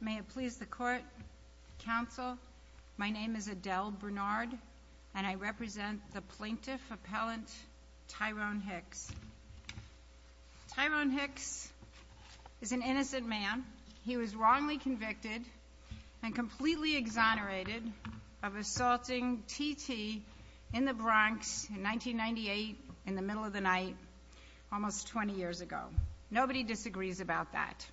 May it please the court, counsel, my name is Adele Bernard and I represent the plaintiff appellant Tyrone Hicks. Tyrone Hicks is an innocent man. He was wrongly convicted and completely exonerated of assaulting TT in the Bronx in 1998 in the middle of the night almost 20 years ago. Nobody disagrees about that.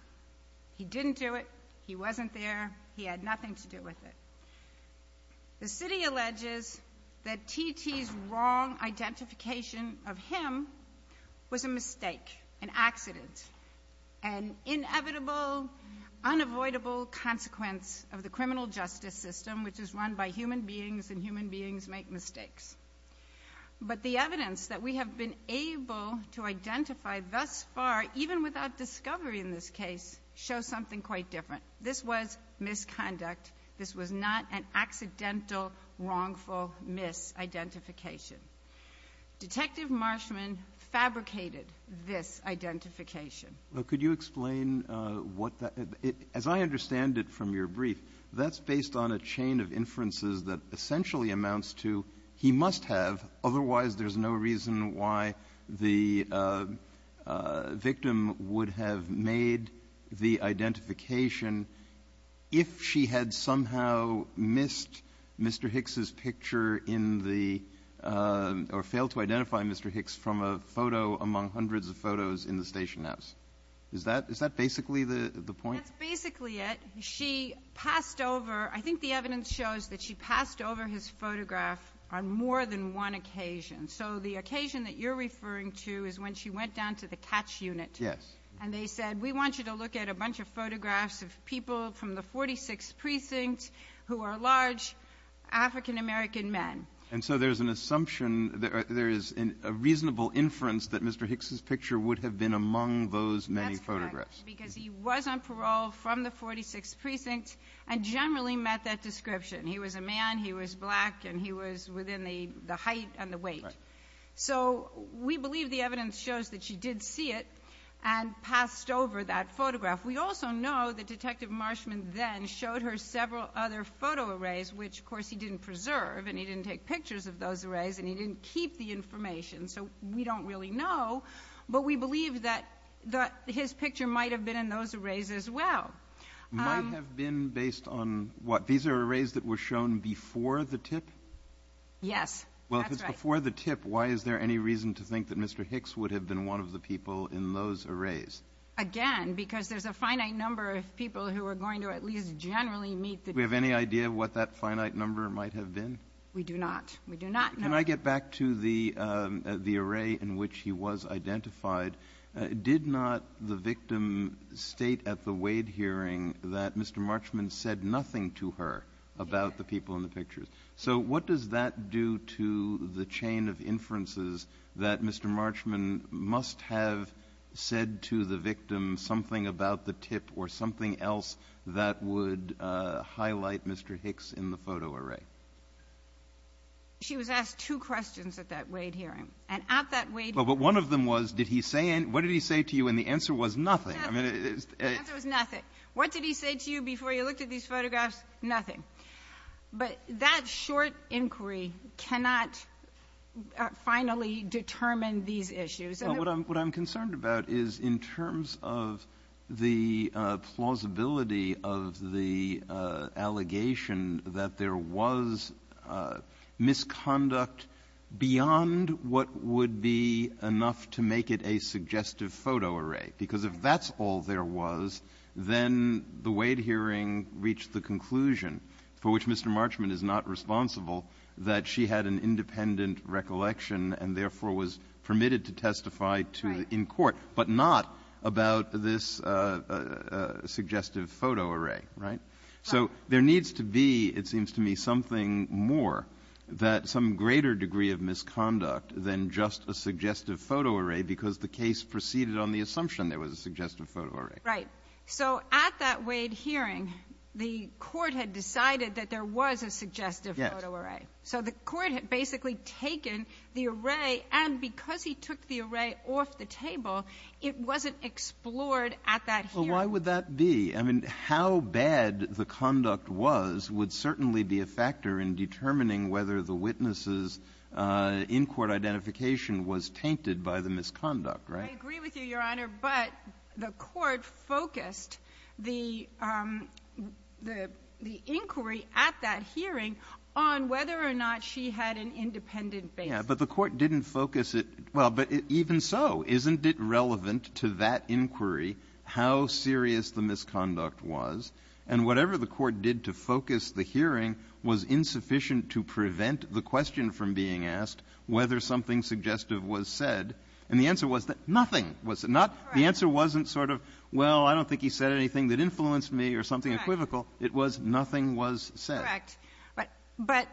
He didn't do it. He wasn't there. He had nothing to do with it. The city alleges that TT's wrong identification of him was a mistake, an accident, an inevitable unavoidable consequence of the criminal justice system which is run by human beings and human beings make mistakes. But the evidence that we have been able to identify thus far, even without discovery in this case, shows something quite different. This was misconduct. This was not an accidental, wrongful misidentification. Detective Marchman fabricated this identification. But could you explain what that as I understand it from your brief, that's based on a chain of inferences that essentially amounts to he must have, otherwise there's no reason why the victim would have made the identification if she had somehow missed Mr. Hicks's picture in the, or failed to identify Mr. Hicks from a photo among hundreds of photos in the station house. Is that basically the point? That's basically it. She passed over, I think the evidence shows that she passed over his photograph on more than one occasion. So the occasion that you're referring to is when she went down to the catch unit. Yes. And they said we want you to look at a bunch of photographs of people from the 46th precinct who are large African American men. And so there's an assumption, there is a reasonable inference that Mr. Hicks's picture would have been among those many photographs. Because he was on parole from the 46th precinct and generally met that he was black and he was within the height and the weight. So we believe the evidence shows that she did see it and passed over that photograph. We also know that Detective Marshman then showed her several other photo arrays, which of course he didn't preserve and he didn't take pictures of those arrays and he didn't keep the information. So we don't really know. But we believe that his picture might have been in those arrays as well. Might have been based on what? These are arrays that were shown before the tip? Yes. Well, if it's before the tip, why is there any reason to think that Mr. Hicks would have been one of the people in those arrays? Again, because there's a finite number of people who are going to at least generally meet the tip. Do we have any idea what that finite number might have been? We do not. We do not know. Can I get back to the array in which he was identified? Did not the victim state at the Wade hearing that Mr. Marshman said nothing to her about the people in the pictures? So what does that do to the chain of inferences that Mr. Marshman must have said to the victim something about the tip or something else that would highlight Mr. Hicks in the photo array? She was asked two questions at that Wade hearing. And at that Wade hearing. Well, but one of them was, did he say, what did he say to you? And the answer was nothing. But that short inquiry cannot finally determine these issues. Well, what I'm concerned about is in terms of the plausibility of the allegation that there was misconduct beyond what would be enough to make it a suggestive photo array. Because if that's all there was, then the Wade hearing reached the conclusion, for which Mr. Marshman is not responsible, that she had an independent recollection and, therefore, was permitted to testify to in court, but not about this suggestive photo array. Right? So there needs to be, it seems to me, something more that some greater degree of misconduct than just a suggestive photo array, because the case proceeded on the assumption there was a suggestive photo array. Right. So at that Wade hearing, the Court had decided that there was a suggestive photo array. Yes. So the Court had basically taken the array, and because he took the array off the table, it wasn't explored at that hearing. Well, why would that be? I mean, how bad the conduct was would certainly be a factor in determining whether the witness's in-court identification was tainted by the misconduct. Right? I agree with you, Your Honor. But the Court focused the inquiry at that hearing on whether or not she had an independent basis. Yes. But the Court didn't focus it. Well, but even so, isn't it relevant to that inquiry how serious the misconduct was? And whatever the Court did to focus the hearing was insufficient to prevent the question from being asked whether something suggestive was said. And the answer was that nothing was said. That's correct. The answer wasn't sort of, well, I don't think he said anything that influenced me or something equivocal. It was nothing was said. Correct. But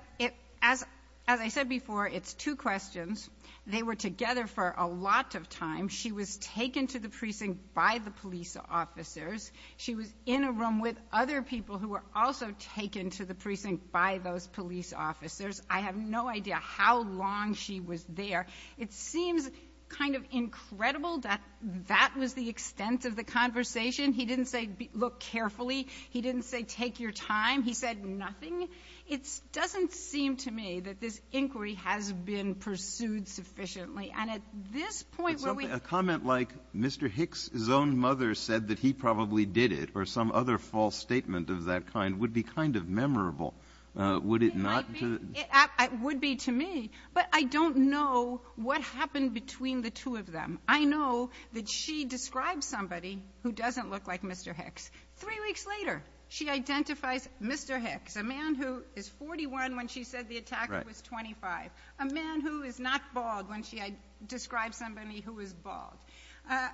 as I said before, it's two questions. They were together for a lot of time. She was taken to the precinct by the police officers. She was in a room with other people who were also taken to the precinct by those police officers. I have no idea how long she was there. It seems kind of incredible that that was the extent of the conversation. He didn't say, look carefully. He didn't say, take your time. He said nothing. It doesn't seem to me that this inquiry has been pursued sufficiently. And at this point, where we ---- But a comment like, Mr. Hicks' own mother said that he probably did it, or some other false statement of that kind, would be kind of memorable. Would it not to ---- Would be to me. But I don't know what happened between the two of them. I know that she describes somebody who doesn't look like Mr. Hicks. Three weeks later, she identifies Mr. Hicks, a man who is 41 when she said the attacker was 25, a man who is not bald when she describes somebody who is bald,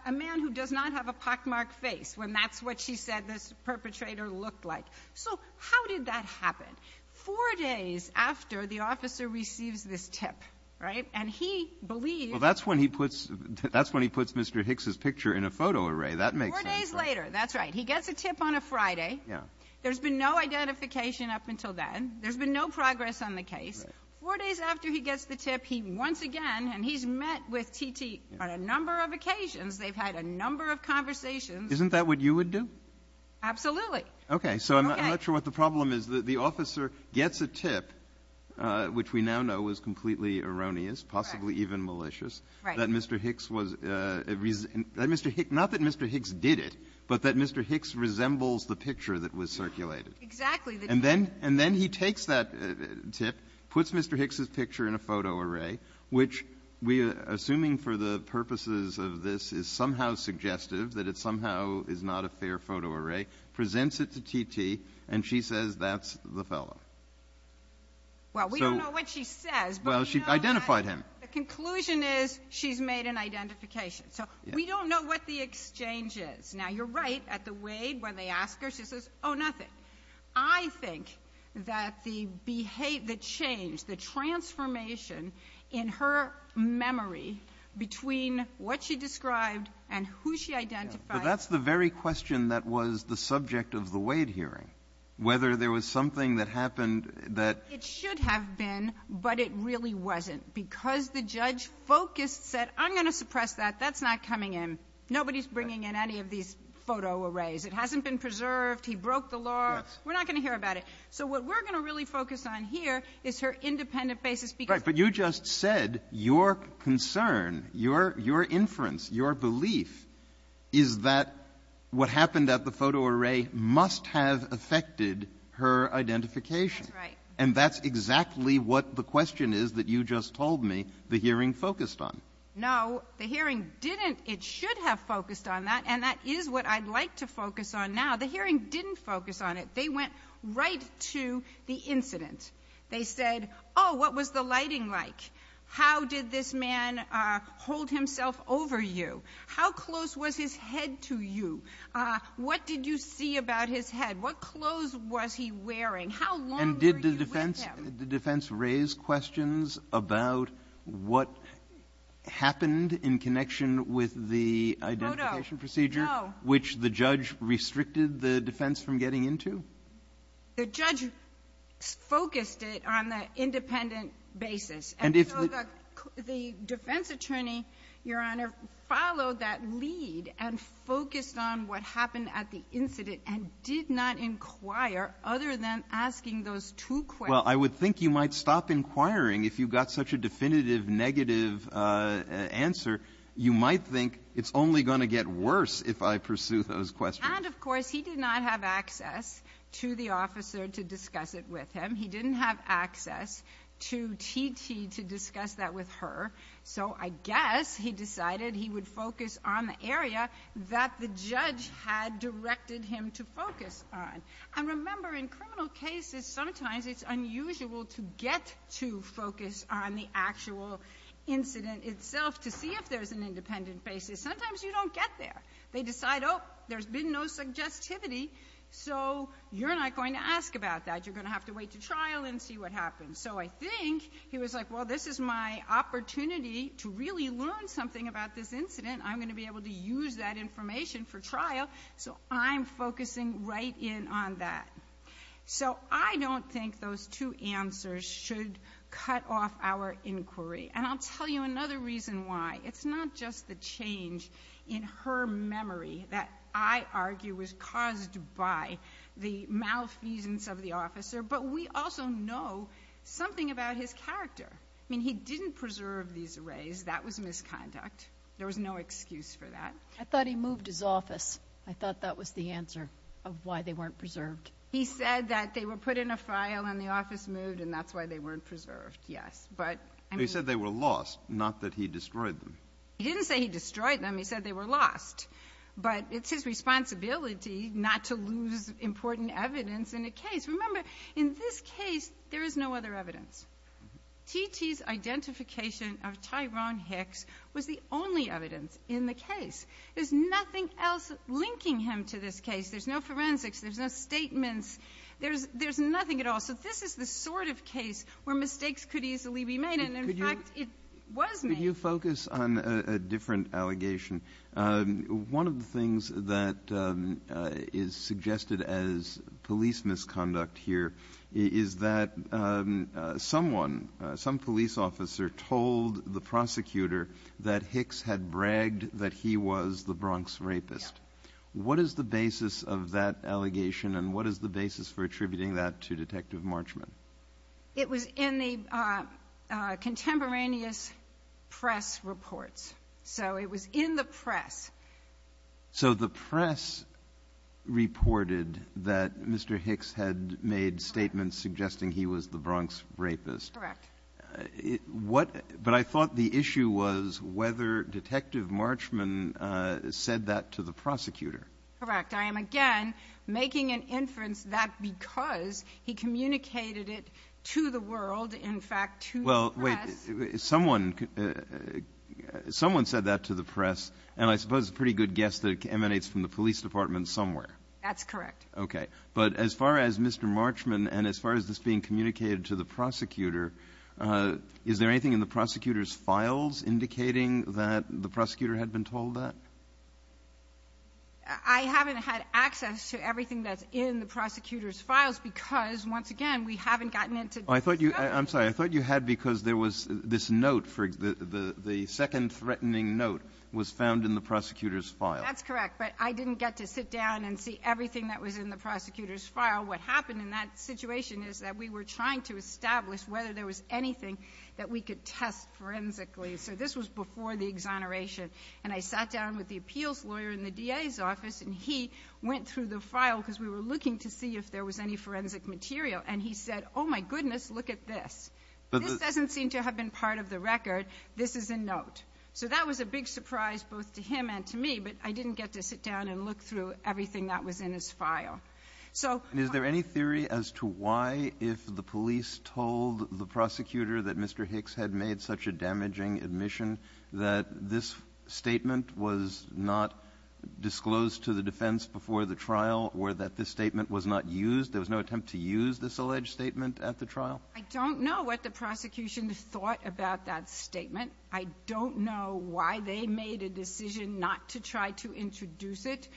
a man who does not have a pockmarked face when that's what she said this perpetrator looked like. So how did that happen? Four days after the officer receives this tip, right? And he believes Well, that's when he puts, that's when he puts Mr. Hicks' picture in a photo array. That makes sense. Four days later. That's right. He gets a tip on a Friday. Yeah. There's been no identification up until then. There's been no progress on the case. Four days after he gets the tip, he once again, and he's met with T.T. on a number of occasions. They've had a number of conversations. Isn't that what you would do? Absolutely. Okay. So I'm not sure what the problem is that the officer gets a tip, which we now know was completely erroneous, possibly even malicious, that Mr. Hicks was, that Mr. Hicks, not that Mr. Hicks did it, but that Mr. Hicks resembles the picture that was circulated. Exactly. And then, and then he takes that tip, puts Mr. Hicks' picture in a photo array, which we, assuming for the purposes of this, is somehow suggestive, that it somehow is not a fair photo array, presents it to T.T., and she says, that's the fellow. Well, we don't know what she says. Well, she identified him. The conclusion is, she's made an identification. So we don't know what the exchange is. Now, you're right, at the Wade, when they ask her, she says, oh, nothing. I think that the behavior, the change, the transformation in her memory between what she described and who she identified. But that's the very question that was the subject of the Wade hearing, whether there was something that happened that It should have been, but it really wasn't, because the judge focused, said, I'm going to suppress that. That's not coming in. Nobody's bringing in any of these photo arrays. It hasn't been preserved. He broke the law. We're not going to hear about it. So what we're going to really focus on here is her independent basis, because of the law. Right. But you just said, your concern, your inference, your belief is that what happened at the photo array must have affected her identification. That's right. And that's exactly what the question is that you just told me the hearing focused on. No. The hearing didn't. It should have focused on that. And that is what I'd like to focus on now. The hearing didn't focus on it. They went right to the incident. They said, oh, what was the lighting like? How did this man hold himself over you? How close was his head to you? What did you see about his head? What clothes was he wearing? How long were you with him? And did the defense raise questions about what happened in connection with the identification procedure, which the judge restricted the defense from getting into? The judge focused it on the independent basis. And if the defense attorney, your Honor, followed that lead and focused on what happened at the incident and did not inquire other than asking those two questions. Well, I would think you might stop inquiring if you've got such a definitive negative answer. You might think it's only going to get worse if I pursue those questions. And, of course, he did not have access to the officer to discuss it with him. He didn't have access to TT to discuss that with her. So I guess he decided he would focus on the area that the judge had directed him to focus on. And remember, in criminal cases, sometimes it's unusual to get to focus on the actual incident itself to see if there's an independent basis. Sometimes you don't get there. They decide, oh, there's been no suggestivity, so you're not going to ask about that. You're going to have to wait to trial and see what happens. So I think he was like, well, this is my opportunity to really learn something about this incident. I'm going to be able to use that information for trial. So I'm focusing right in on that. So I don't think those two answers should cut off our inquiry. And I'll tell you another reason why. It's not just the change in her memory that I argue was caused by the malfeasance of the officer, but we also know something about his character. I mean, he didn't preserve these arrays. That was misconduct. There was no excuse for that. I thought he moved his office. I thought that was the answer of why they weren't preserved. He said that they were put in a file and the office moved, and that's why they weren't preserved, yes. He said they were lost, not that he destroyed them. He didn't say he destroyed them. He said they were lost. But it's his responsibility not to lose important evidence in a case. Remember, in this case, there is no other evidence. T.T.'s identification of Tyrone Hicks was the only evidence in the case. There's nothing else linking him to this case. There's no forensics. There's no statements. There's nothing at all. So this is the sort of case where mistakes could easily be made, and in fact, it was made. Could you focus on a different allegation? One of the things that is suggested as police misconduct here is that someone, some police officer, told the prosecutor that Hicks had bragged that he was the Bronx rapist. What is the basis of that allegation, and what is the basis for attributing that to Detective Marchman? It was in the contemporaneous press reports. So it was in the press. So the press reported that Mr. Hicks had made statements suggesting he was the Bronx rapist. Correct. What — but I thought the issue was whether Detective Marchman said that to the prosecutor. Correct. I am, again, making an inference that because he communicated it to the world, in fact, to the press — Well, wait. Someone said that to the press, and I suppose it's a pretty good guess that it emanates from the police department somewhere. That's correct. Okay. But as far as Mr. Marchman and as far as this being communicated to the prosecutor, is there anything in the prosecutor's files indicating that the prosecutor had been told that? I haven't had access to everything that's in the prosecutor's files because, once again, we haven't gotten into the scope of the case. I'm sorry. I thought you had because there was this note for — the second threatening note was found in the prosecutor's file. That's correct. But I didn't get to sit down and see everything that was in the prosecutor's file. What happened in that situation is that we were trying to establish whether there was anything that we could test forensically. So this was before the exoneration. And I sat down with the appeals lawyer in the DA's office, and he went through the file because we were looking to see if there was any forensic material. And he said, oh, my goodness, look at this. This doesn't seem to have been part of the record. This is a note. So that was a big surprise both to him and to me. But I didn't get to sit down and look through everything that was in his file. So — And is there any theory as to why, if the police told the prosecutor that Mr. Hicks had made such a damaging admission, that this statement was not disclosed to the defense before the trial, or that this statement was not used — there was no attempt to use this alleged statement at the trial? I don't know what the prosecution thought about that statement. I don't know why they made a decision not to try to introduce it.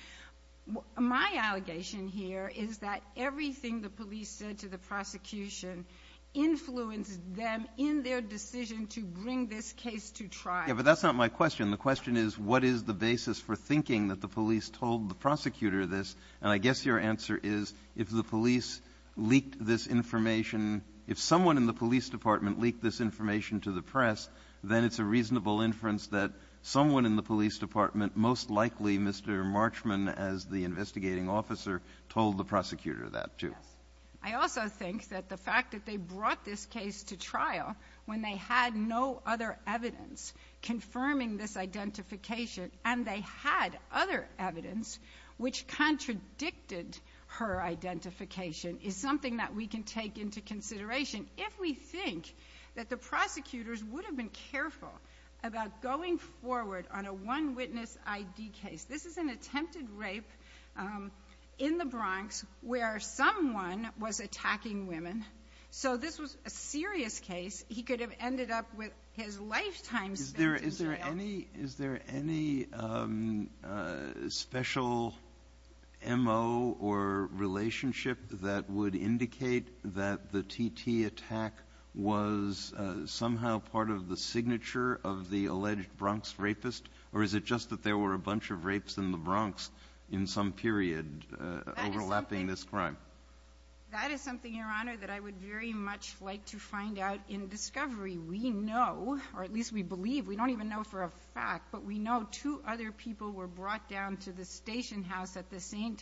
My allegation here is that everything the police said to the prosecution influenced them in their decision to bring this case to trial. Yeah, but that's not my question. The question is, what is the basis for thinking that the police told the prosecutor this? And I guess your answer is, if the police leaked this information — if someone in the police department leaked this information to the press, then it's a reasonable inference that someone in the police department, most likely Mr. Marchman as the investigating officer, told the prosecutor that, too. Yes. I also think that the fact that they brought this case to trial when they had no other evidence confirming this identification, and they had other evidence which contradicted her identification, is something that we can take into consideration. If we think that the prosecutors would have been careful about going forward on a one-witness I.D. case — this is an attempted rape in the Bronx where someone was attacking women. So this was a serious case. He could have ended up with his lifetime spent in jail. Is there any special M.O. or relationship that would indicate that the T.T. attack was somehow part of the signature of the alleged Bronx rapist? Or is it just that there were a bunch of rapes in the Bronx in some period overlapping this crime? That is something, Your Honor, that I would very much like to find out in discovery. We know, or at least we believe — we don't even know for a fact — but we know two other people were brought down to the station house at the same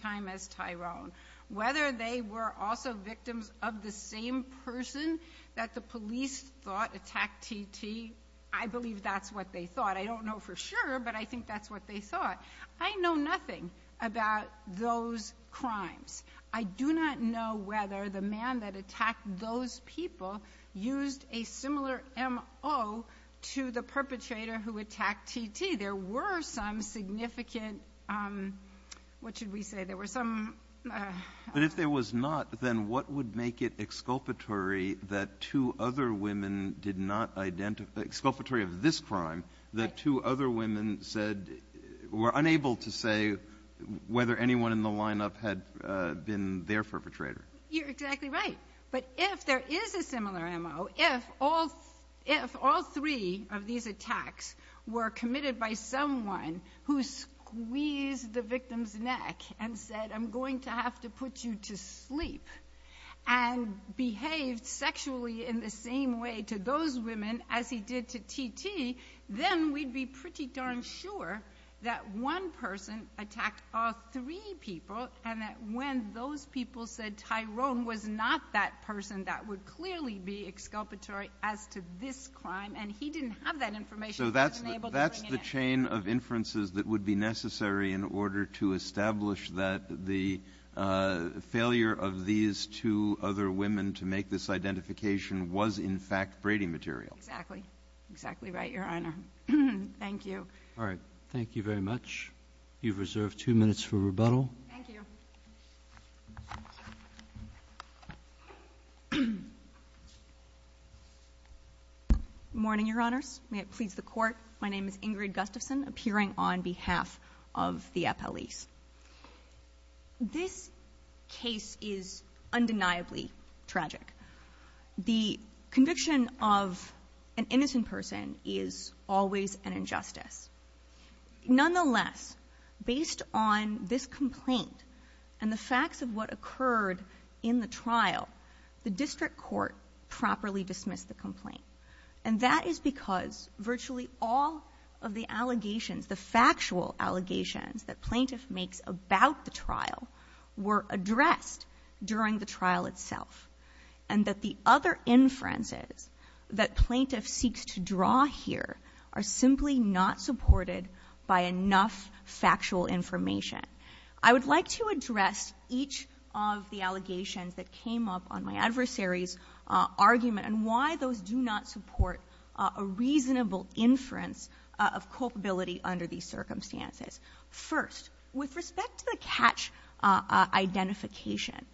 person that the police thought attacked T.T. I believe that's what they thought. I don't know for sure, but I think that's what they thought. I know nothing about those crimes. I do not know whether the man that attacked those people used a similar M.O. to the perpetrator who attacked T.T. There were some significant — what should we say? There were some — But if there was not, then what would make it exculpatory that two other women did not identify — exculpatory of this crime — that two other women said — were unable to say whether anyone in the lineup had been their perpetrator? You're exactly right. But if there is a similar M.O., if all three of these attacks were committed by someone who squeezed the victim's neck and said, I'm going to have to put you to sleep, and behaved sexually in the same way to those women as he did to T.T., then we'd be pretty darn sure that one person attacked all three people, and that when those people said Tyrone was not that person, that would clearly be exculpatory as to this crime, and he didn't have that information. So that's the chain of inferences that would be necessary in order to make this identification was, in fact, Brady material. Exactly. Exactly right, Your Honor. Thank you. All right. Thank you very much. You've reserved two minutes for rebuttal. Thank you. Good morning, Your Honors. May it please the Court. My name is Ingrid Gustafson, appearing on behalf of the The conviction of an innocent person is always an injustice. Nonetheless, based on this complaint and the facts of what occurred in the trial, the district court properly dismissed the complaint. And that is because virtually all of the allegations, the factual allegations that plaintiff makes about the trial, were addressed during the trial. During the trial itself. And that the other inferences that plaintiff seeks to draw here are simply not supported by enough factual information. I would like to address each of the allegations that came up on my adversary's argument and why those do not support a reasonable inference of culpability under these circumstances. First, with respect to the catch identification,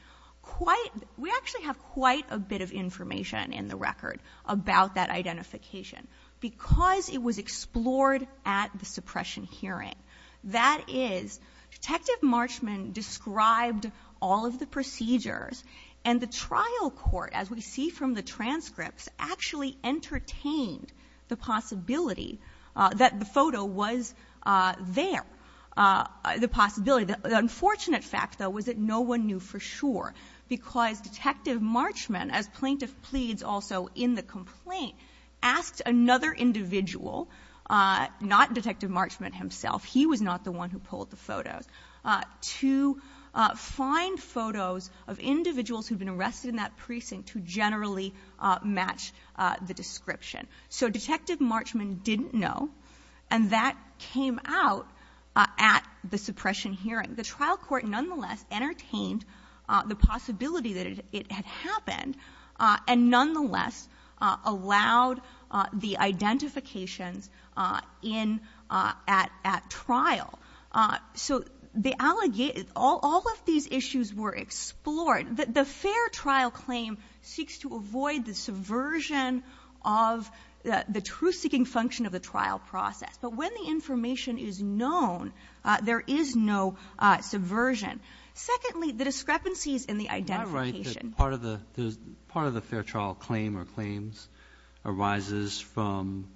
we actually have quite a bit of information in the record about that identification because it was explored at the suppression hearing. That is, Detective Marchman described all of the procedures and the trial court, as we see from the transcripts, actually entertained the possibility that the photo was there. The possibility. The unfortunate fact, though, was that no one knew for sure. Because Detective Marchman, as plaintiff pleads also in the complaint, asked another individual, not Detective Marchman himself, he was not the one who pulled the photos, to find photos of individuals who had been arrested in that precinct to generally match the description. So Detective Marchman didn't know. And that came out at the suppression hearing. The trial court nonetheless entertained the possibility that it had happened and nonetheless allowed the identifications in at trial. So all of these issues were explored. The fair trial claim seeks to avoid the subversion of the truth-seeking function of the trial process. But when the information is known, there is no subversion. Secondly, the discrepancies in the identification. Part of the fair trial claim or claims arises from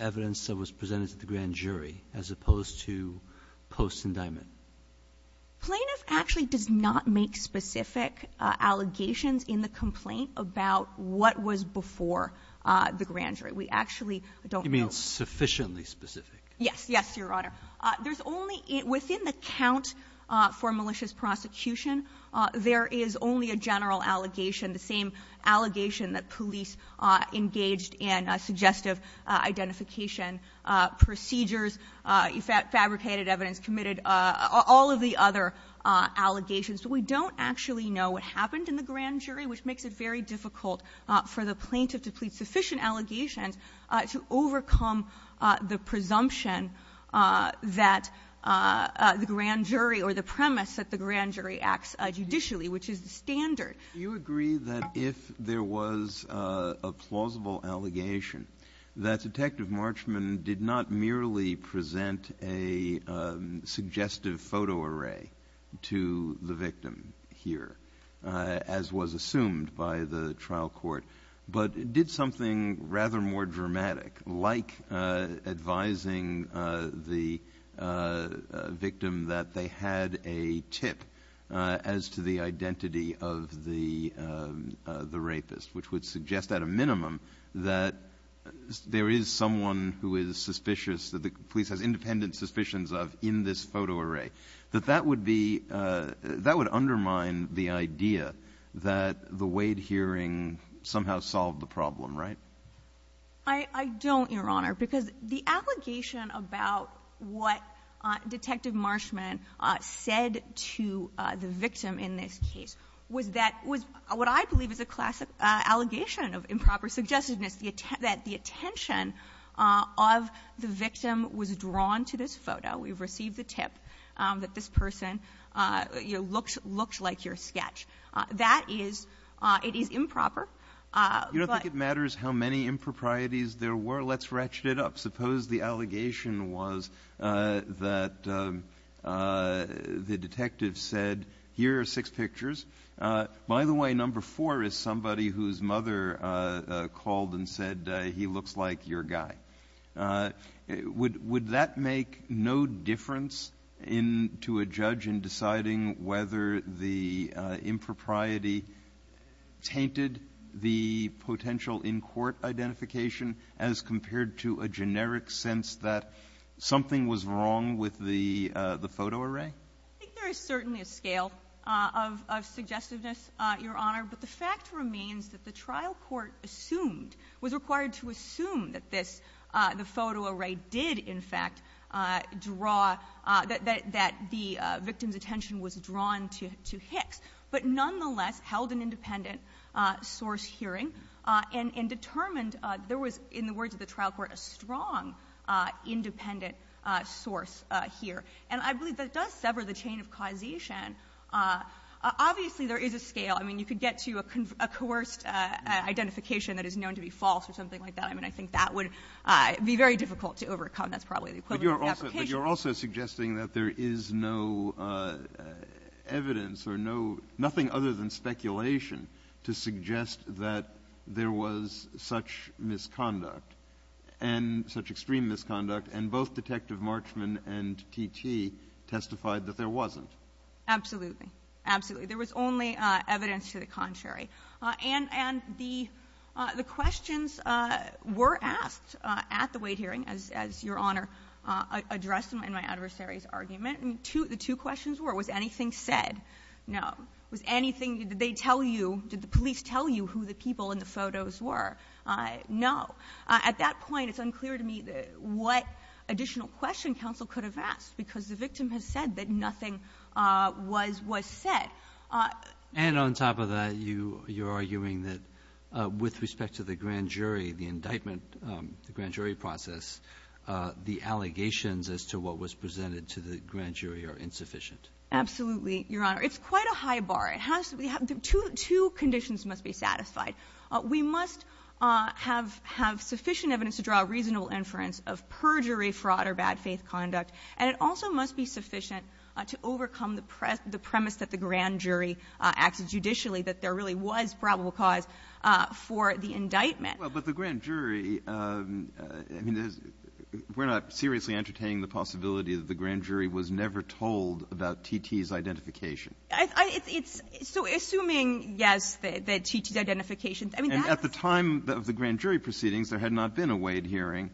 evidence that was presented to the grand jury as opposed to post-indictment. Plaintiff actually does not make specific allegations in the complaint about what was before the grand jury. We actually don't know. You mean sufficiently specific? Yes. Yes, Your Honor. Within the count for malicious prosecution, there is only a general allegation, the same allegation that police engaged in suggestive identification procedures, fabricated evidence, committed all of the other allegations. But we don't actually know what happened in the grand jury, which makes it very difficult for the plaintiff to plead sufficient allegations to overcome the presumption that the grand jury or the premise that the grand jury acts judicially, which is the standard. Do you agree that if there was a plausible allegation, that Detective Marchman did not merely present a suggestive photo array to the victim here, as was assumed by the trial court, but did something rather more dramatic, like advising the victim that they had a tip as to the identity of the rapist, which would suggest at a minimum that there is someone who is suspicious, that the police has independent suspicions of in this photo array, that that would undermine the idea that the Wade hearing somehow solved the problem, right? I don't, Your Honor, because the allegation about what Detective Marchman said to the victim in this case was that was what I believe is a classic allegation of improper suggestiveness, that the attention of the victim was drawn to this photo. We've received the tip that this person, you know, looks like your sketch. That is – it is improper, but – You don't think it matters how many improprieties there were? Let's ratchet it up. Suppose the allegation was that the detective said, here are six pictures. By the way, number four is somebody whose mother called and said, he looks like your guy. Would that make no difference in – to a judge in deciding whether the impropriety tainted the potential in-court identification as compared to a generic sense that something was wrong with the photo array? I think there is certainly a scale of suggestiveness, Your Honor. But the fact remains that the trial court assumed – was required to assume that this – the photo array did, in fact, draw – that the victim's attention was drawn to Hicks. But nonetheless, held an independent source hearing and determined there was, in the words of the trial court, a strong independent source here. And I believe that does sever the chain of causation. Obviously, there is a scale. I mean, you could get to a coerced identification that is known to be false or something like that. I mean, I think that would be very difficult to overcome. That's probably the equivalent of an application. But you're also suggesting that there is no evidence or no – nothing other than speculation to suggest that there was such misconduct and – such extreme misconduct, and both Detective Marchman and T.T. testified that there wasn't. Absolutely. There was only evidence to the contrary. And the questions were asked at the weight hearing, as Your Honor addressed in my adversary's argument. The two questions were, was anything said? No. Was anything – did they tell you – did the police tell you who the people in the photos were? No. At that point, it's unclear to me what additional question counsel could have asked, because the victim has said that nothing was said. And on top of that, you're arguing that with respect to the grand jury, the indictment, the grand jury process, the allegations as to what was presented to the grand jury are insufficient. Absolutely, Your Honor. It's quite a high bar. It has to be – two conditions must be satisfied. We must have sufficient evidence to draw a reasonable inference of perjury, fraud, or bad faith conduct. And it also must be sufficient to overcome the premise that the grand jury acted judicially, that there really was probable cause for the indictment. Well, but the grand jury – I mean, there's – we're not seriously entertaining the possibility that the grand jury was never told about T.T.'s identification. I – it's – so assuming, yes, that T.T.'s identification – I mean, that was – And at the time of the grand jury proceedings, there had not been a weight hearing,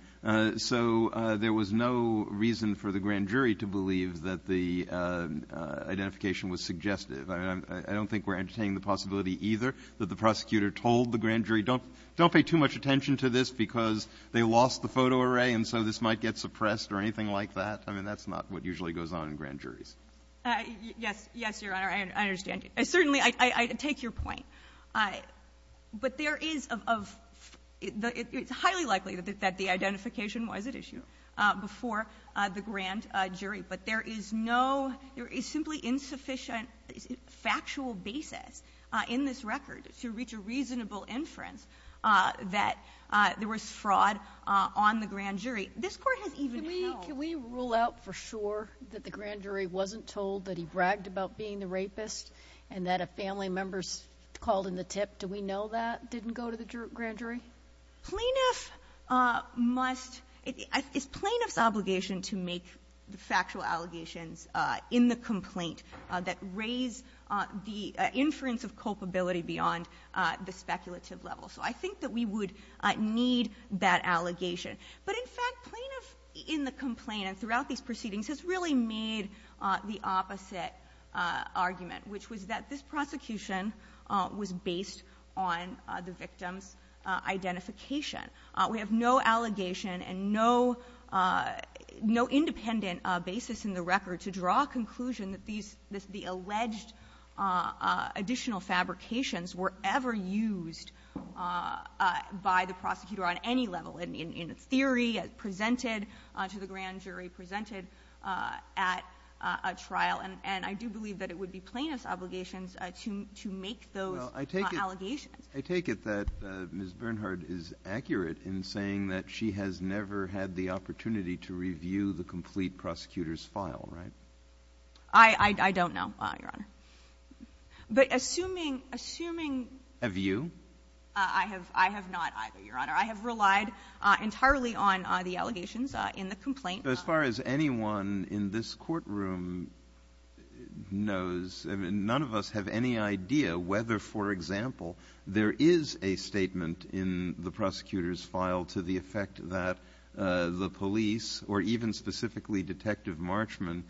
so there was no reason for the grand jury to believe that the identification was suggestive. I mean, I don't think we're entertaining the possibility either that the prosecutor told the grand jury, don't pay too much attention to this because they lost the photo array and so this might get suppressed or anything like that. I mean, that's not what usually goes on in grand juries. Yes. Yes, Your Honor. I understand. Certainly, I take your point. But there is – it's highly likely that the identification was at issue before the grand jury, but there is no – there is simply insufficient factual basis in this record to reach a reasonable inference that there was fraud on the grand jury. This Court has even held – Can we rule out for sure that the grand jury wasn't told that he bragged about being the rapist and that a family member called in the tip? Do we know that didn't go to the grand jury? Plaintiff must – it's plaintiff's obligation to make factual allegations in the complaint that raise the inference of culpability beyond the speculative level. So I think that we would need that allegation. But in fact, plaintiff in the complaint and throughout these proceedings has really made the opposite argument, which was that this prosecution was based on the victim's identification. We have no allegation and no independent basis in the record to draw a conclusion that these – the alleged additional fabrications were ever used by the prosecutor on any level. In theory, presented to the grand jury, presented at a trial. And I do believe that it would be plaintiff's obligations to make those allegations. I take it that Ms. Bernhard is accurate in saying that she has never had the opportunity to review the complete prosecutor's file, right? I don't know, Your Honor. But assuming – Have you? I have not either, Your Honor. I have relied entirely on the allegations in the complaint. As far as anyone in this courtroom knows, I mean, none of us have any idea whether, for example, there is a statement in the prosecutor's file to the effect that the police or even specifically Detective Marchman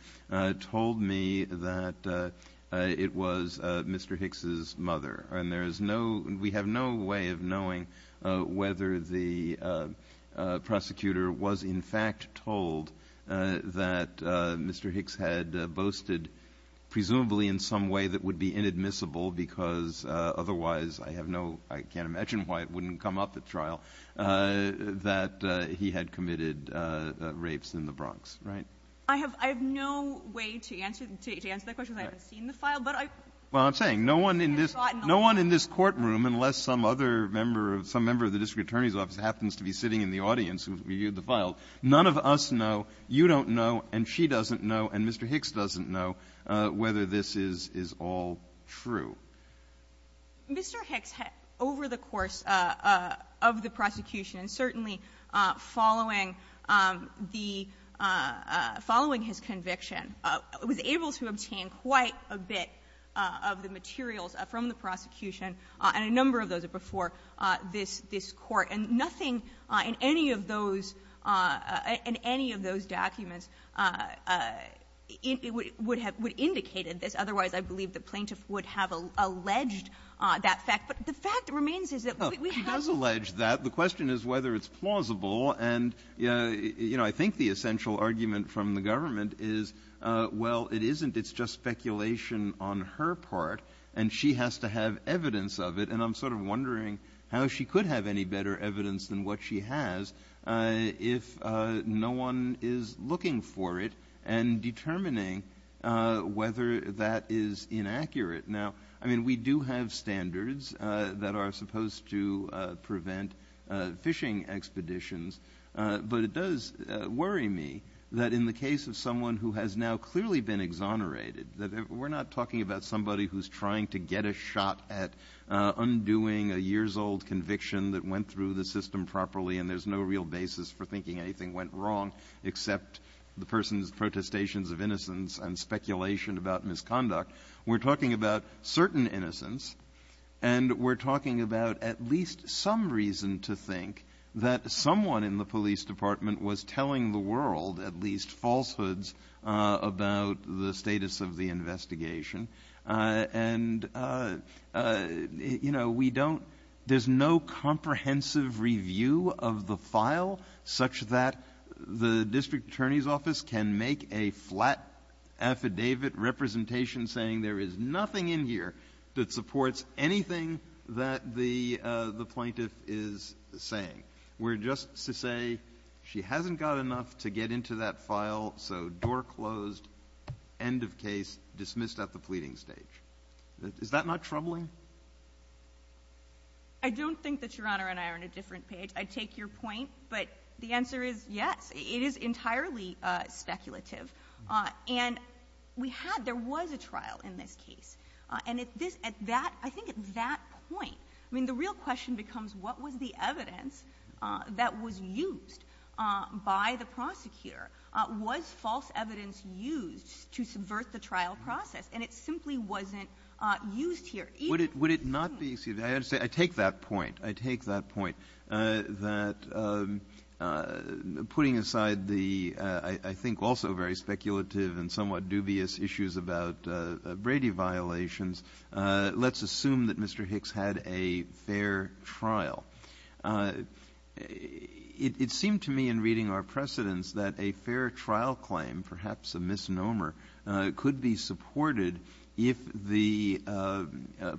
told me that it was Mr. Hicks's mother. And there is no – we have no way of knowing whether the prosecutor was, in fact, told that Mr. Hicks had boasted, presumably in some way that would be inadmissible because otherwise I have no – I can't imagine why it wouldn't come up at trial, that he had committed rapes in the Bronx, right? I have no way to answer that question because I haven't seen the file. Well, I'm saying no one in this – no one in this courtroom, unless some other member of – some member of the district attorney's office happens to be sitting in the audience who has reviewed the file, none of us know, you don't know, and she doesn't know, and Mr. Hicks doesn't know whether this is all true. Mr. Hicks, over the course of the prosecution and certainly following the – following his conviction, was able to obtain quite a bit of the materials from the prosecution and a number of those are before this court. And nothing in any of those – in any of those documents would have – would indicate this. Otherwise, I believe the plaintiff would have alleged that fact. But the fact remains is that we have – He does allege that. The question is whether it's plausible. And, you know, I think the essential argument from the government is, well, it isn't. It's just speculation on her part, and she has to have evidence of it, and I'm sort of wondering how she could have any better evidence than what she has if no one is looking for it and determining whether that is inaccurate. Now, I mean, we do have standards that are supposed to prevent fishing expeditions, but it does worry me that in the case of someone who has now clearly been exonerated, that we're not talking about somebody who's trying to get a shot at undoing a years-old conviction that went through the system properly and there's no real basis for thinking anything went wrong except the person's protestations of innocence and speculation about misconduct. We're talking about certain innocence, and we're talking about at least some reason to think that someone in the police department was telling the world at least falsehoods about the status of the investigation. And, you know, we don't – there's no comprehensive review of the file such that the district attorney's office can make a flat affidavit representation saying there is nothing in here that supports anything that the plaintiff is saying. We're just to say she hasn't got enough to get into that file, so door closed, end of case, dismissed at the pleading stage. Is that not troubling? I don't think that Your Honor and I are on a different page. I take your point, but the answer is yes. It is entirely speculative. And we had – there was a trial in this case. And at this – at that – I think at that point – I mean, the real question becomes what was the evidence that was used by the prosecutor? Was false evidence used to subvert the trial process? And it simply wasn't used here. Even in this case. I take that point. I take that point, that putting aside the I think also very speculative and somewhat dubious issues about Brady violations, let's assume that Mr. Hicks had a fair trial. It seemed to me in reading our precedents that a fair trial claim, perhaps a misnomer, could be supported if the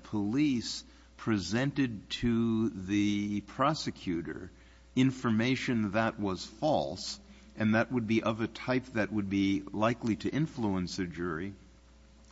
police presented to the prosecutor information that was false and that would be of a type that would be likely to influence a jury.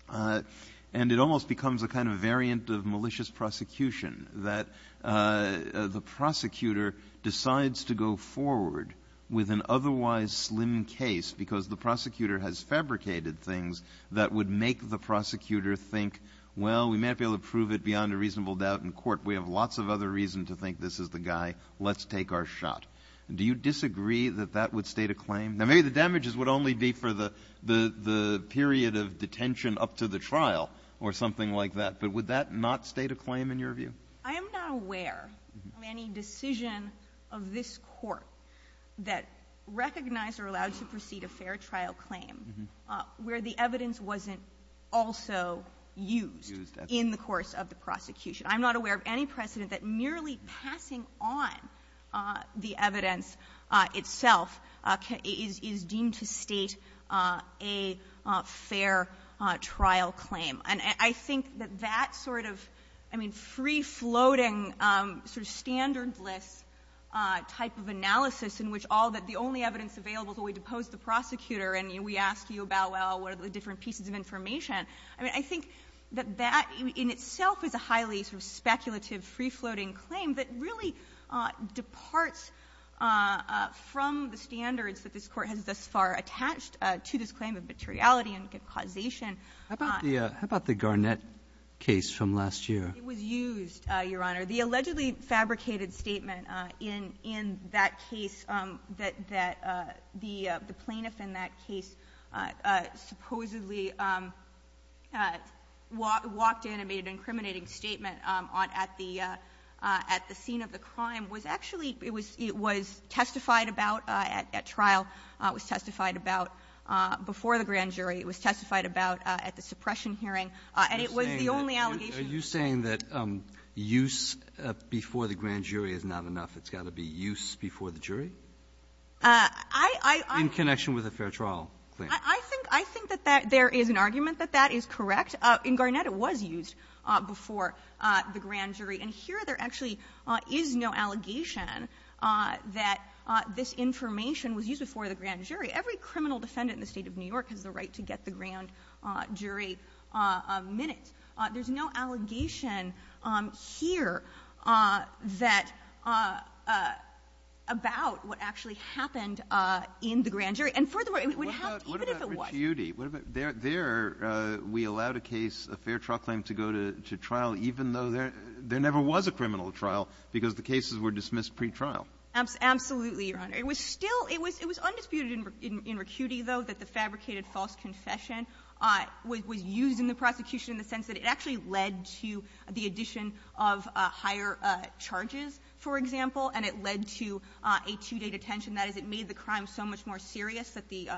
And it almost becomes a kind of variant of malicious prosecution, that the prosecutor decides to go forward with an otherwise slim case because the prosecutor has fabricated things that would make the prosecutor think, well, we may not be able to prove it beyond a reasonable doubt in court. We have lots of other reason to think this is the guy. Let's take our shot. Do you disagree that that would state a claim? Now, maybe the damages would only be for the period of detention up to the trial or something like that, but would that not state a claim in your view? I am not aware of any decision of this Court that recognized or allowed to proceed a fair trial claim where the evidence wasn't also used in the course of the prosecution. I'm not aware of any precedent that merely passing on the evidence itself is deemed to state a fair trial claim. And I think that that sort of, I mean, free-floating, sort of standardless type of analysis in which all that the only evidence available is the way to pose the prosecutor and we ask you about, well, what are the different pieces of information? I mean, I think that that in itself is a highly sort of speculative, free-floating claim that really departs from the standards that this Court has thus far attached to this claim of materiality and causation. How about the Garnett case from last year? It was used, Your Honor. The allegedly fabricated statement in that case that the plaintiff in that case supposedly walked in and made an incriminating statement at the scene of the crime was actually testified about at trial, was testified about before the grand jury, it was testified about at the suppression hearing, and it was the only allegation. Are you saying that use before the grand jury is not enough? It's got to be use before the jury? In connection with a fair trial claim. I think that there is an argument that that is correct. In Garnett, it was used before the grand jury. And here, there actually is no allegation that this information was used before the grand jury. Every criminal defendant in the State of New York has the right to get the grand jury minutes. There's no allegation here that about what actually happened in the grand jury. And furthermore, it would have to, even if it was. What about Richiuti? There, we allowed a case, a fair trial claim to go to trial even though there never was a criminal trial because the cases were dismissed pretrial. Absolutely, Your Honor. It was still, it was undisputed in Richiuti, though, that the fabricated false confession was used in the prosecution in the sense that it actually led to the addition of higher charges, for example, and it led to a two-day detention. That is, it made the crime so much more serious that the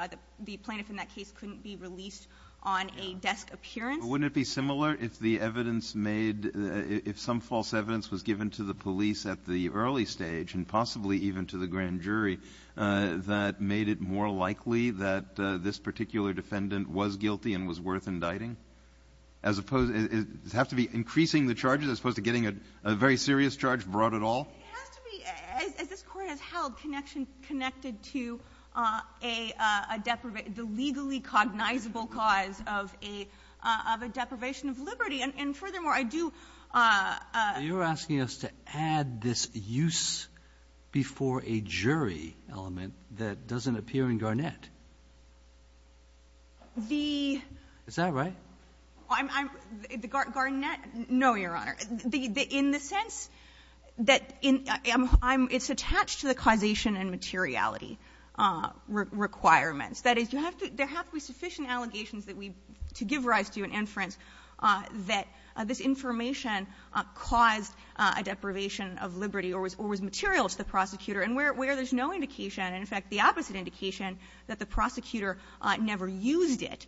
plaintiff in that case couldn't be released on a desk appearance. But wouldn't it be similar if the evidence made, if some false evidence was given to the police at the early stage and possibly even to the grand jury that made it more likely that this particular defendant was guilty and was worth indicting? As opposed, does it have to be increasing the charges as opposed to getting a very serious charge brought at all? It has to be, as this Court has held, connected to a deprivation, the legally cognizable cause of a deprivation of liberty. And furthermore, I do ---- You're asking us to add this use before a jury element that doesn't appear in Garnett. The ---- Is that right? Garnett? No, Your Honor. In the sense that it's attached to the causation and materiality requirements. That is, you have to, there have to be sufficient allegations that we, to give rise to an inference, that this information caused a deprivation of liberty or was material to the prosecutor. And where there's no indication, and in fact the opposite indication, that the prosecutor never used it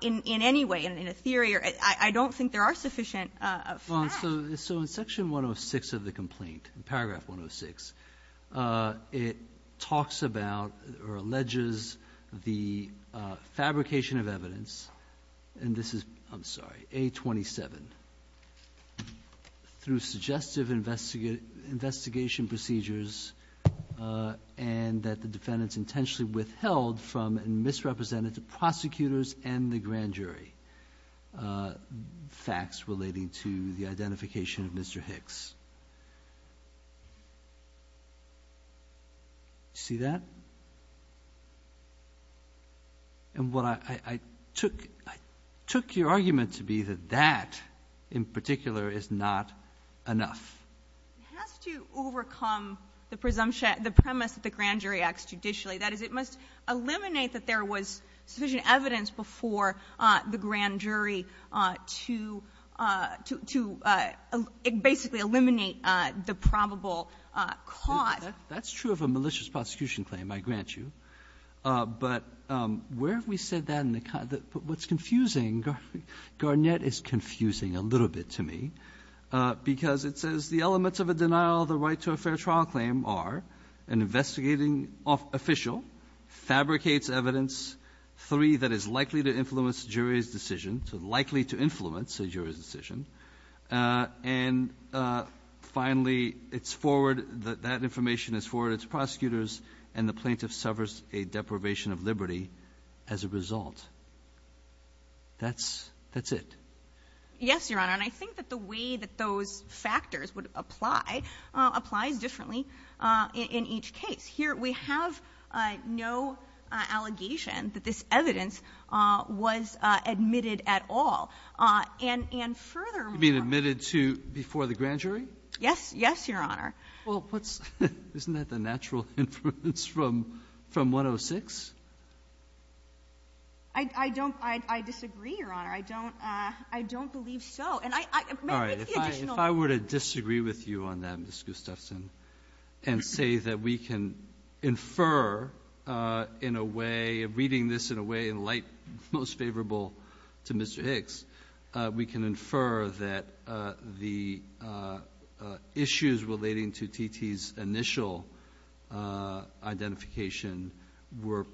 in any way, in a theory, I don't think there are sufficient facts. So in section 106 of the complaint, paragraph 106, it talks about or alleges the fabrication of evidence, and this is, I'm sorry, A27, through suggestive investigation procedures and that the defendants intentionally withheld from and misrepresented the prosecutors and the grand jury facts relating to the identification of Mr. Hicks. See that? And what I took, I took your argument to be that that, in particular, is not enough. It has to overcome the presumption, the premise that the grand jury acts judicially. That is, it must eliminate that there was sufficient evidence before the grand jury to basically eliminate the probable cause. That's true of a malicious prosecution claim, I grant you. But where have we said that in the, what's confusing, Garnett is confusing a little bit to me, because it says the elements of a denial of the right to a fair trial claim are an investigating official fabricates evidence, three, that is likely to influence jury's decision, so likely to influence a jury's decision. And finally, it's forward, that information is forwarded to prosecutors, and the plaintiff suffers a deprivation of liberty as a result. That's it. Yes, Your Honor. And I think that the way that those factors would apply applies differently in each case. Here we have no allegation that this evidence was admitted at all. And furthermore ---- You mean admitted to before the grand jury? Yes. Yes, Your Honor. Well, isn't that the natural influence from 106? I don't, I disagree, Your Honor. I don't, I don't believe so. All right. If I were to disagree with you on that, Ms. Gustafson, and say that we can infer in a way, reading this in a way in light most favorable to Mr. Hicks, we can infer that the issues relating to T.T.'s initial identification were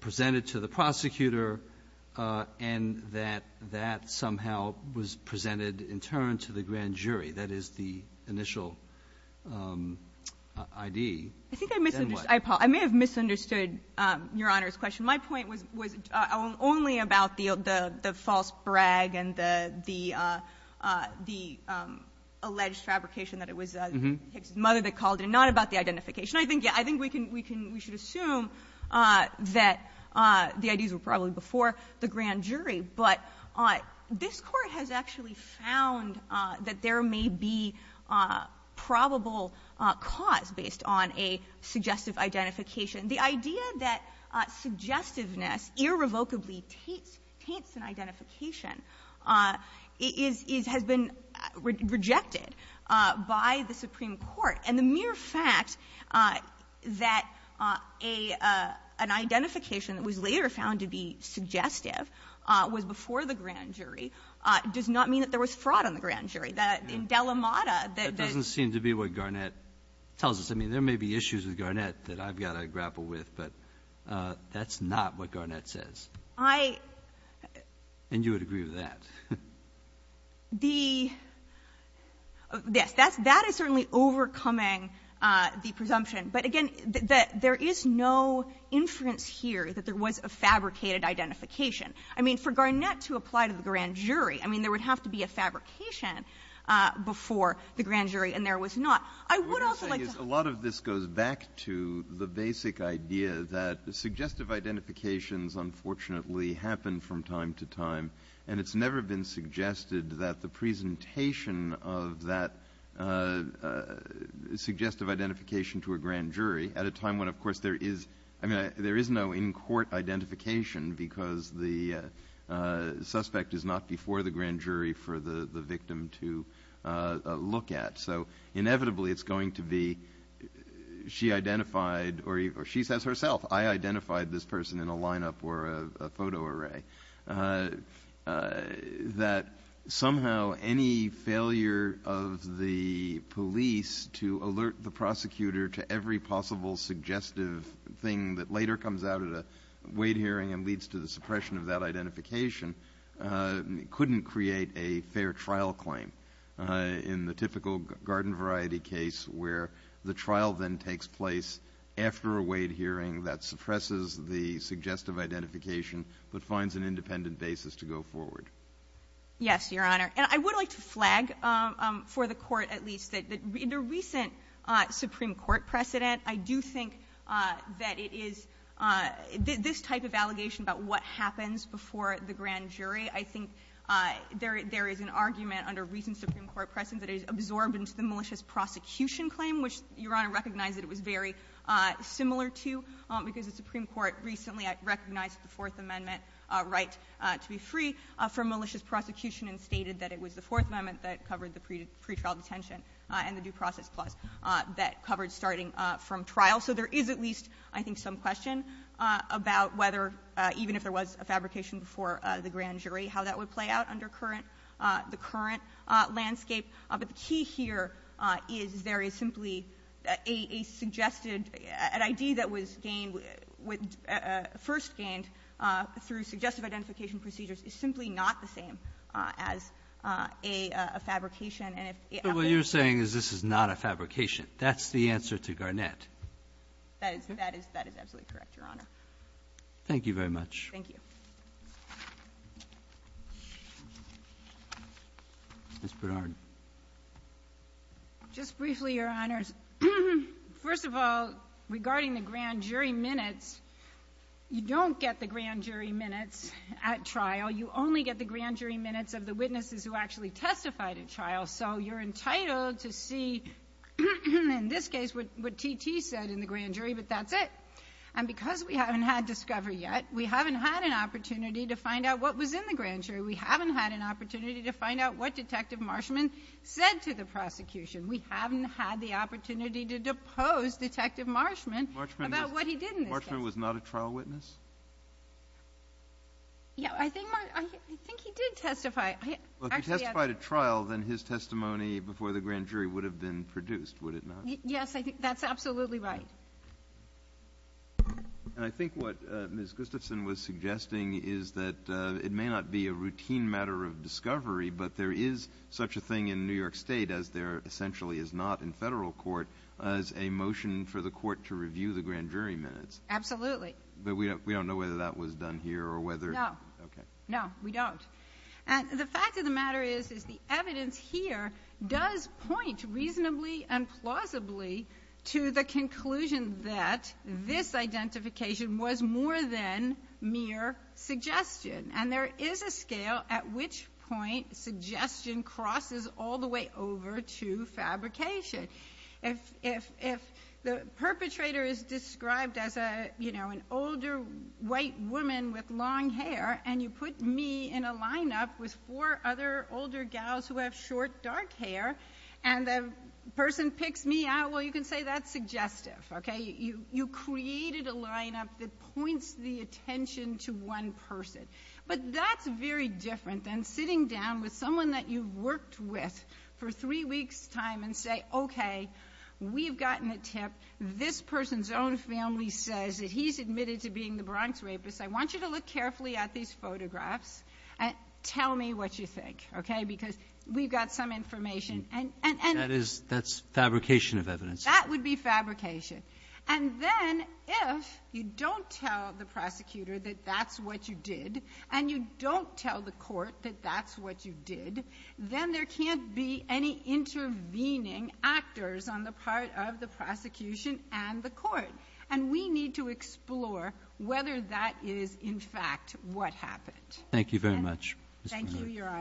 presented to the prosecutor and that that somehow was presented in turn to the grand jury. That is the initial I.D. I think I misunderstood. I may have misunderstood Your Honor's question. My point was only about the false brag and the alleged fabrication that it was Hicks's mother that called it, and not about the identification. I think, yes, I think we can, we can, we should assume that the I.D.'s were probably before the grand jury, but this Court has actually found that there may be probable cause based on a suggestive identification. The idea that suggestiveness irrevocably taints an identification is, is, has been rejected by the Supreme Court. And the mere fact that a, an identification that was later found to be suggestive was before the grand jury does not mean that there was fraud on the grand jury. In Delamada, the ---- That doesn't seem to be what Garnett tells us. I mean, there may be issues with Garnett that I've got to grapple with, but that's not what Garnett says. I ---- And you would agree with that? The, yes, that's, that is certainly overcoming the presumption. But again, there is no inference here that there was a fabricated identification. I mean, for Garnett to apply to the grand jury, I mean, there would have to be a fabrication before the grand jury, and there was not. I would also like to ---- What I'm saying is a lot of this goes back to the basic idea that suggestive identifications unfortunately happen from time to time, and it's never been suggested that the presentation of that suggestive identification to a grand jury at a time when, of course, there is, I mean, there is no in-court identification because the suspect is not before the grand jury for the victim to look at. So inevitably it's going to be she identified or she says herself, I identified this person in a lineup or a photo array, that somehow any failure of the police to alert the prosecutor to every possible suggestive thing that later comes out at a weight hearing and leads to the suppression of that identification couldn't create a fair trial claim. In the typical garden variety case where the trial then takes place after a weight hearing that suppresses the suggestive identification but finds an independent basis to go forward. Yes, Your Honor. And I would like to flag for the Court at least that in a recent supreme court precedent, I do think that it is this type of allegation about what happens before the grand jury, I think there is an argument under recent supreme court precedent that is absorbed into the malicious prosecution claim, which Your Honor recognizes it was very similar to because the supreme court recently recognized the Fourth Amendment right to be free from malicious prosecution and stated that it was the Fourth Amendment that covered the pretrial detention and the due process clause that covered starting from trial. So there is at least, I think, some question about whether, even if there was a fabrication before the grand jury, how that would play out under current, the current landscape. But the key here is there is simply a suggested, an ID that was gained with, first gained through suggestive identification procedures is simply not the same as a fabrication and if it was. But what you're saying is this is not a fabrication. That's the answer to Garnett. That is absolutely correct, Your Honor. Thank you very much. Ms. Bernard. Just briefly, Your Honors. First of all, regarding the grand jury minutes, you don't get the grand jury minutes at trial. You only get the grand jury minutes of the witnesses who actually testified at trial. So you're entitled to see, in this case, what T.T. said in the grand jury, but that's it. And because we haven't had discovery yet, we haven't had an opportunity to find out what was in the grand jury. We haven't had an opportunity to find out what Detective Marshman said to the prosecution. We haven't had the opportunity to depose Detective Marshman about what he did in this case. Marshman was not a trial witness? Yeah, I think he did testify. Well, if he testified at trial, then his testimony before the grand jury would have been produced, would it not? Yes, I think that's absolutely right. And I think what Ms. Gustafson was suggesting is that it may not be a routine matter of discovery, but there is such a thing in New York State, as there essentially is not in federal court, as a motion for the court to review the grand jury minutes. Absolutely. But we don't know whether that was done here or whether... No. Okay. No, we don't. And the fact of the matter is, is the evidence here does point reasonably and plausibly to the conclusion that this identification was more than mere suggestion. And there is a scale at which point suggestion crosses all the way over to fabrication. If the perpetrator is described as, you know, an older white woman with long hair, and you put me in a lineup with four other older gals who have short, dark hair, and the person picks me out, well, you can say that's suggestive. Okay? You created a lineup that points the attention to one person. But that's very different than sitting down with someone that you've worked with for three weeks' time and say, okay, we've gotten a tip. This person's own family says that he's admitted to being the Bronx rapist. I want you to look carefully at these photographs and tell me what you think, okay? Because we've got some information. That's fabrication of evidence. That would be fabrication. And then if you don't tell the prosecutor that that's what you did, and you don't tell the court that that's what you did, then there can't be any intervening actors on the part of the prosecution and the court. And we need to explore whether that is, in fact, what happened. Thank you very much.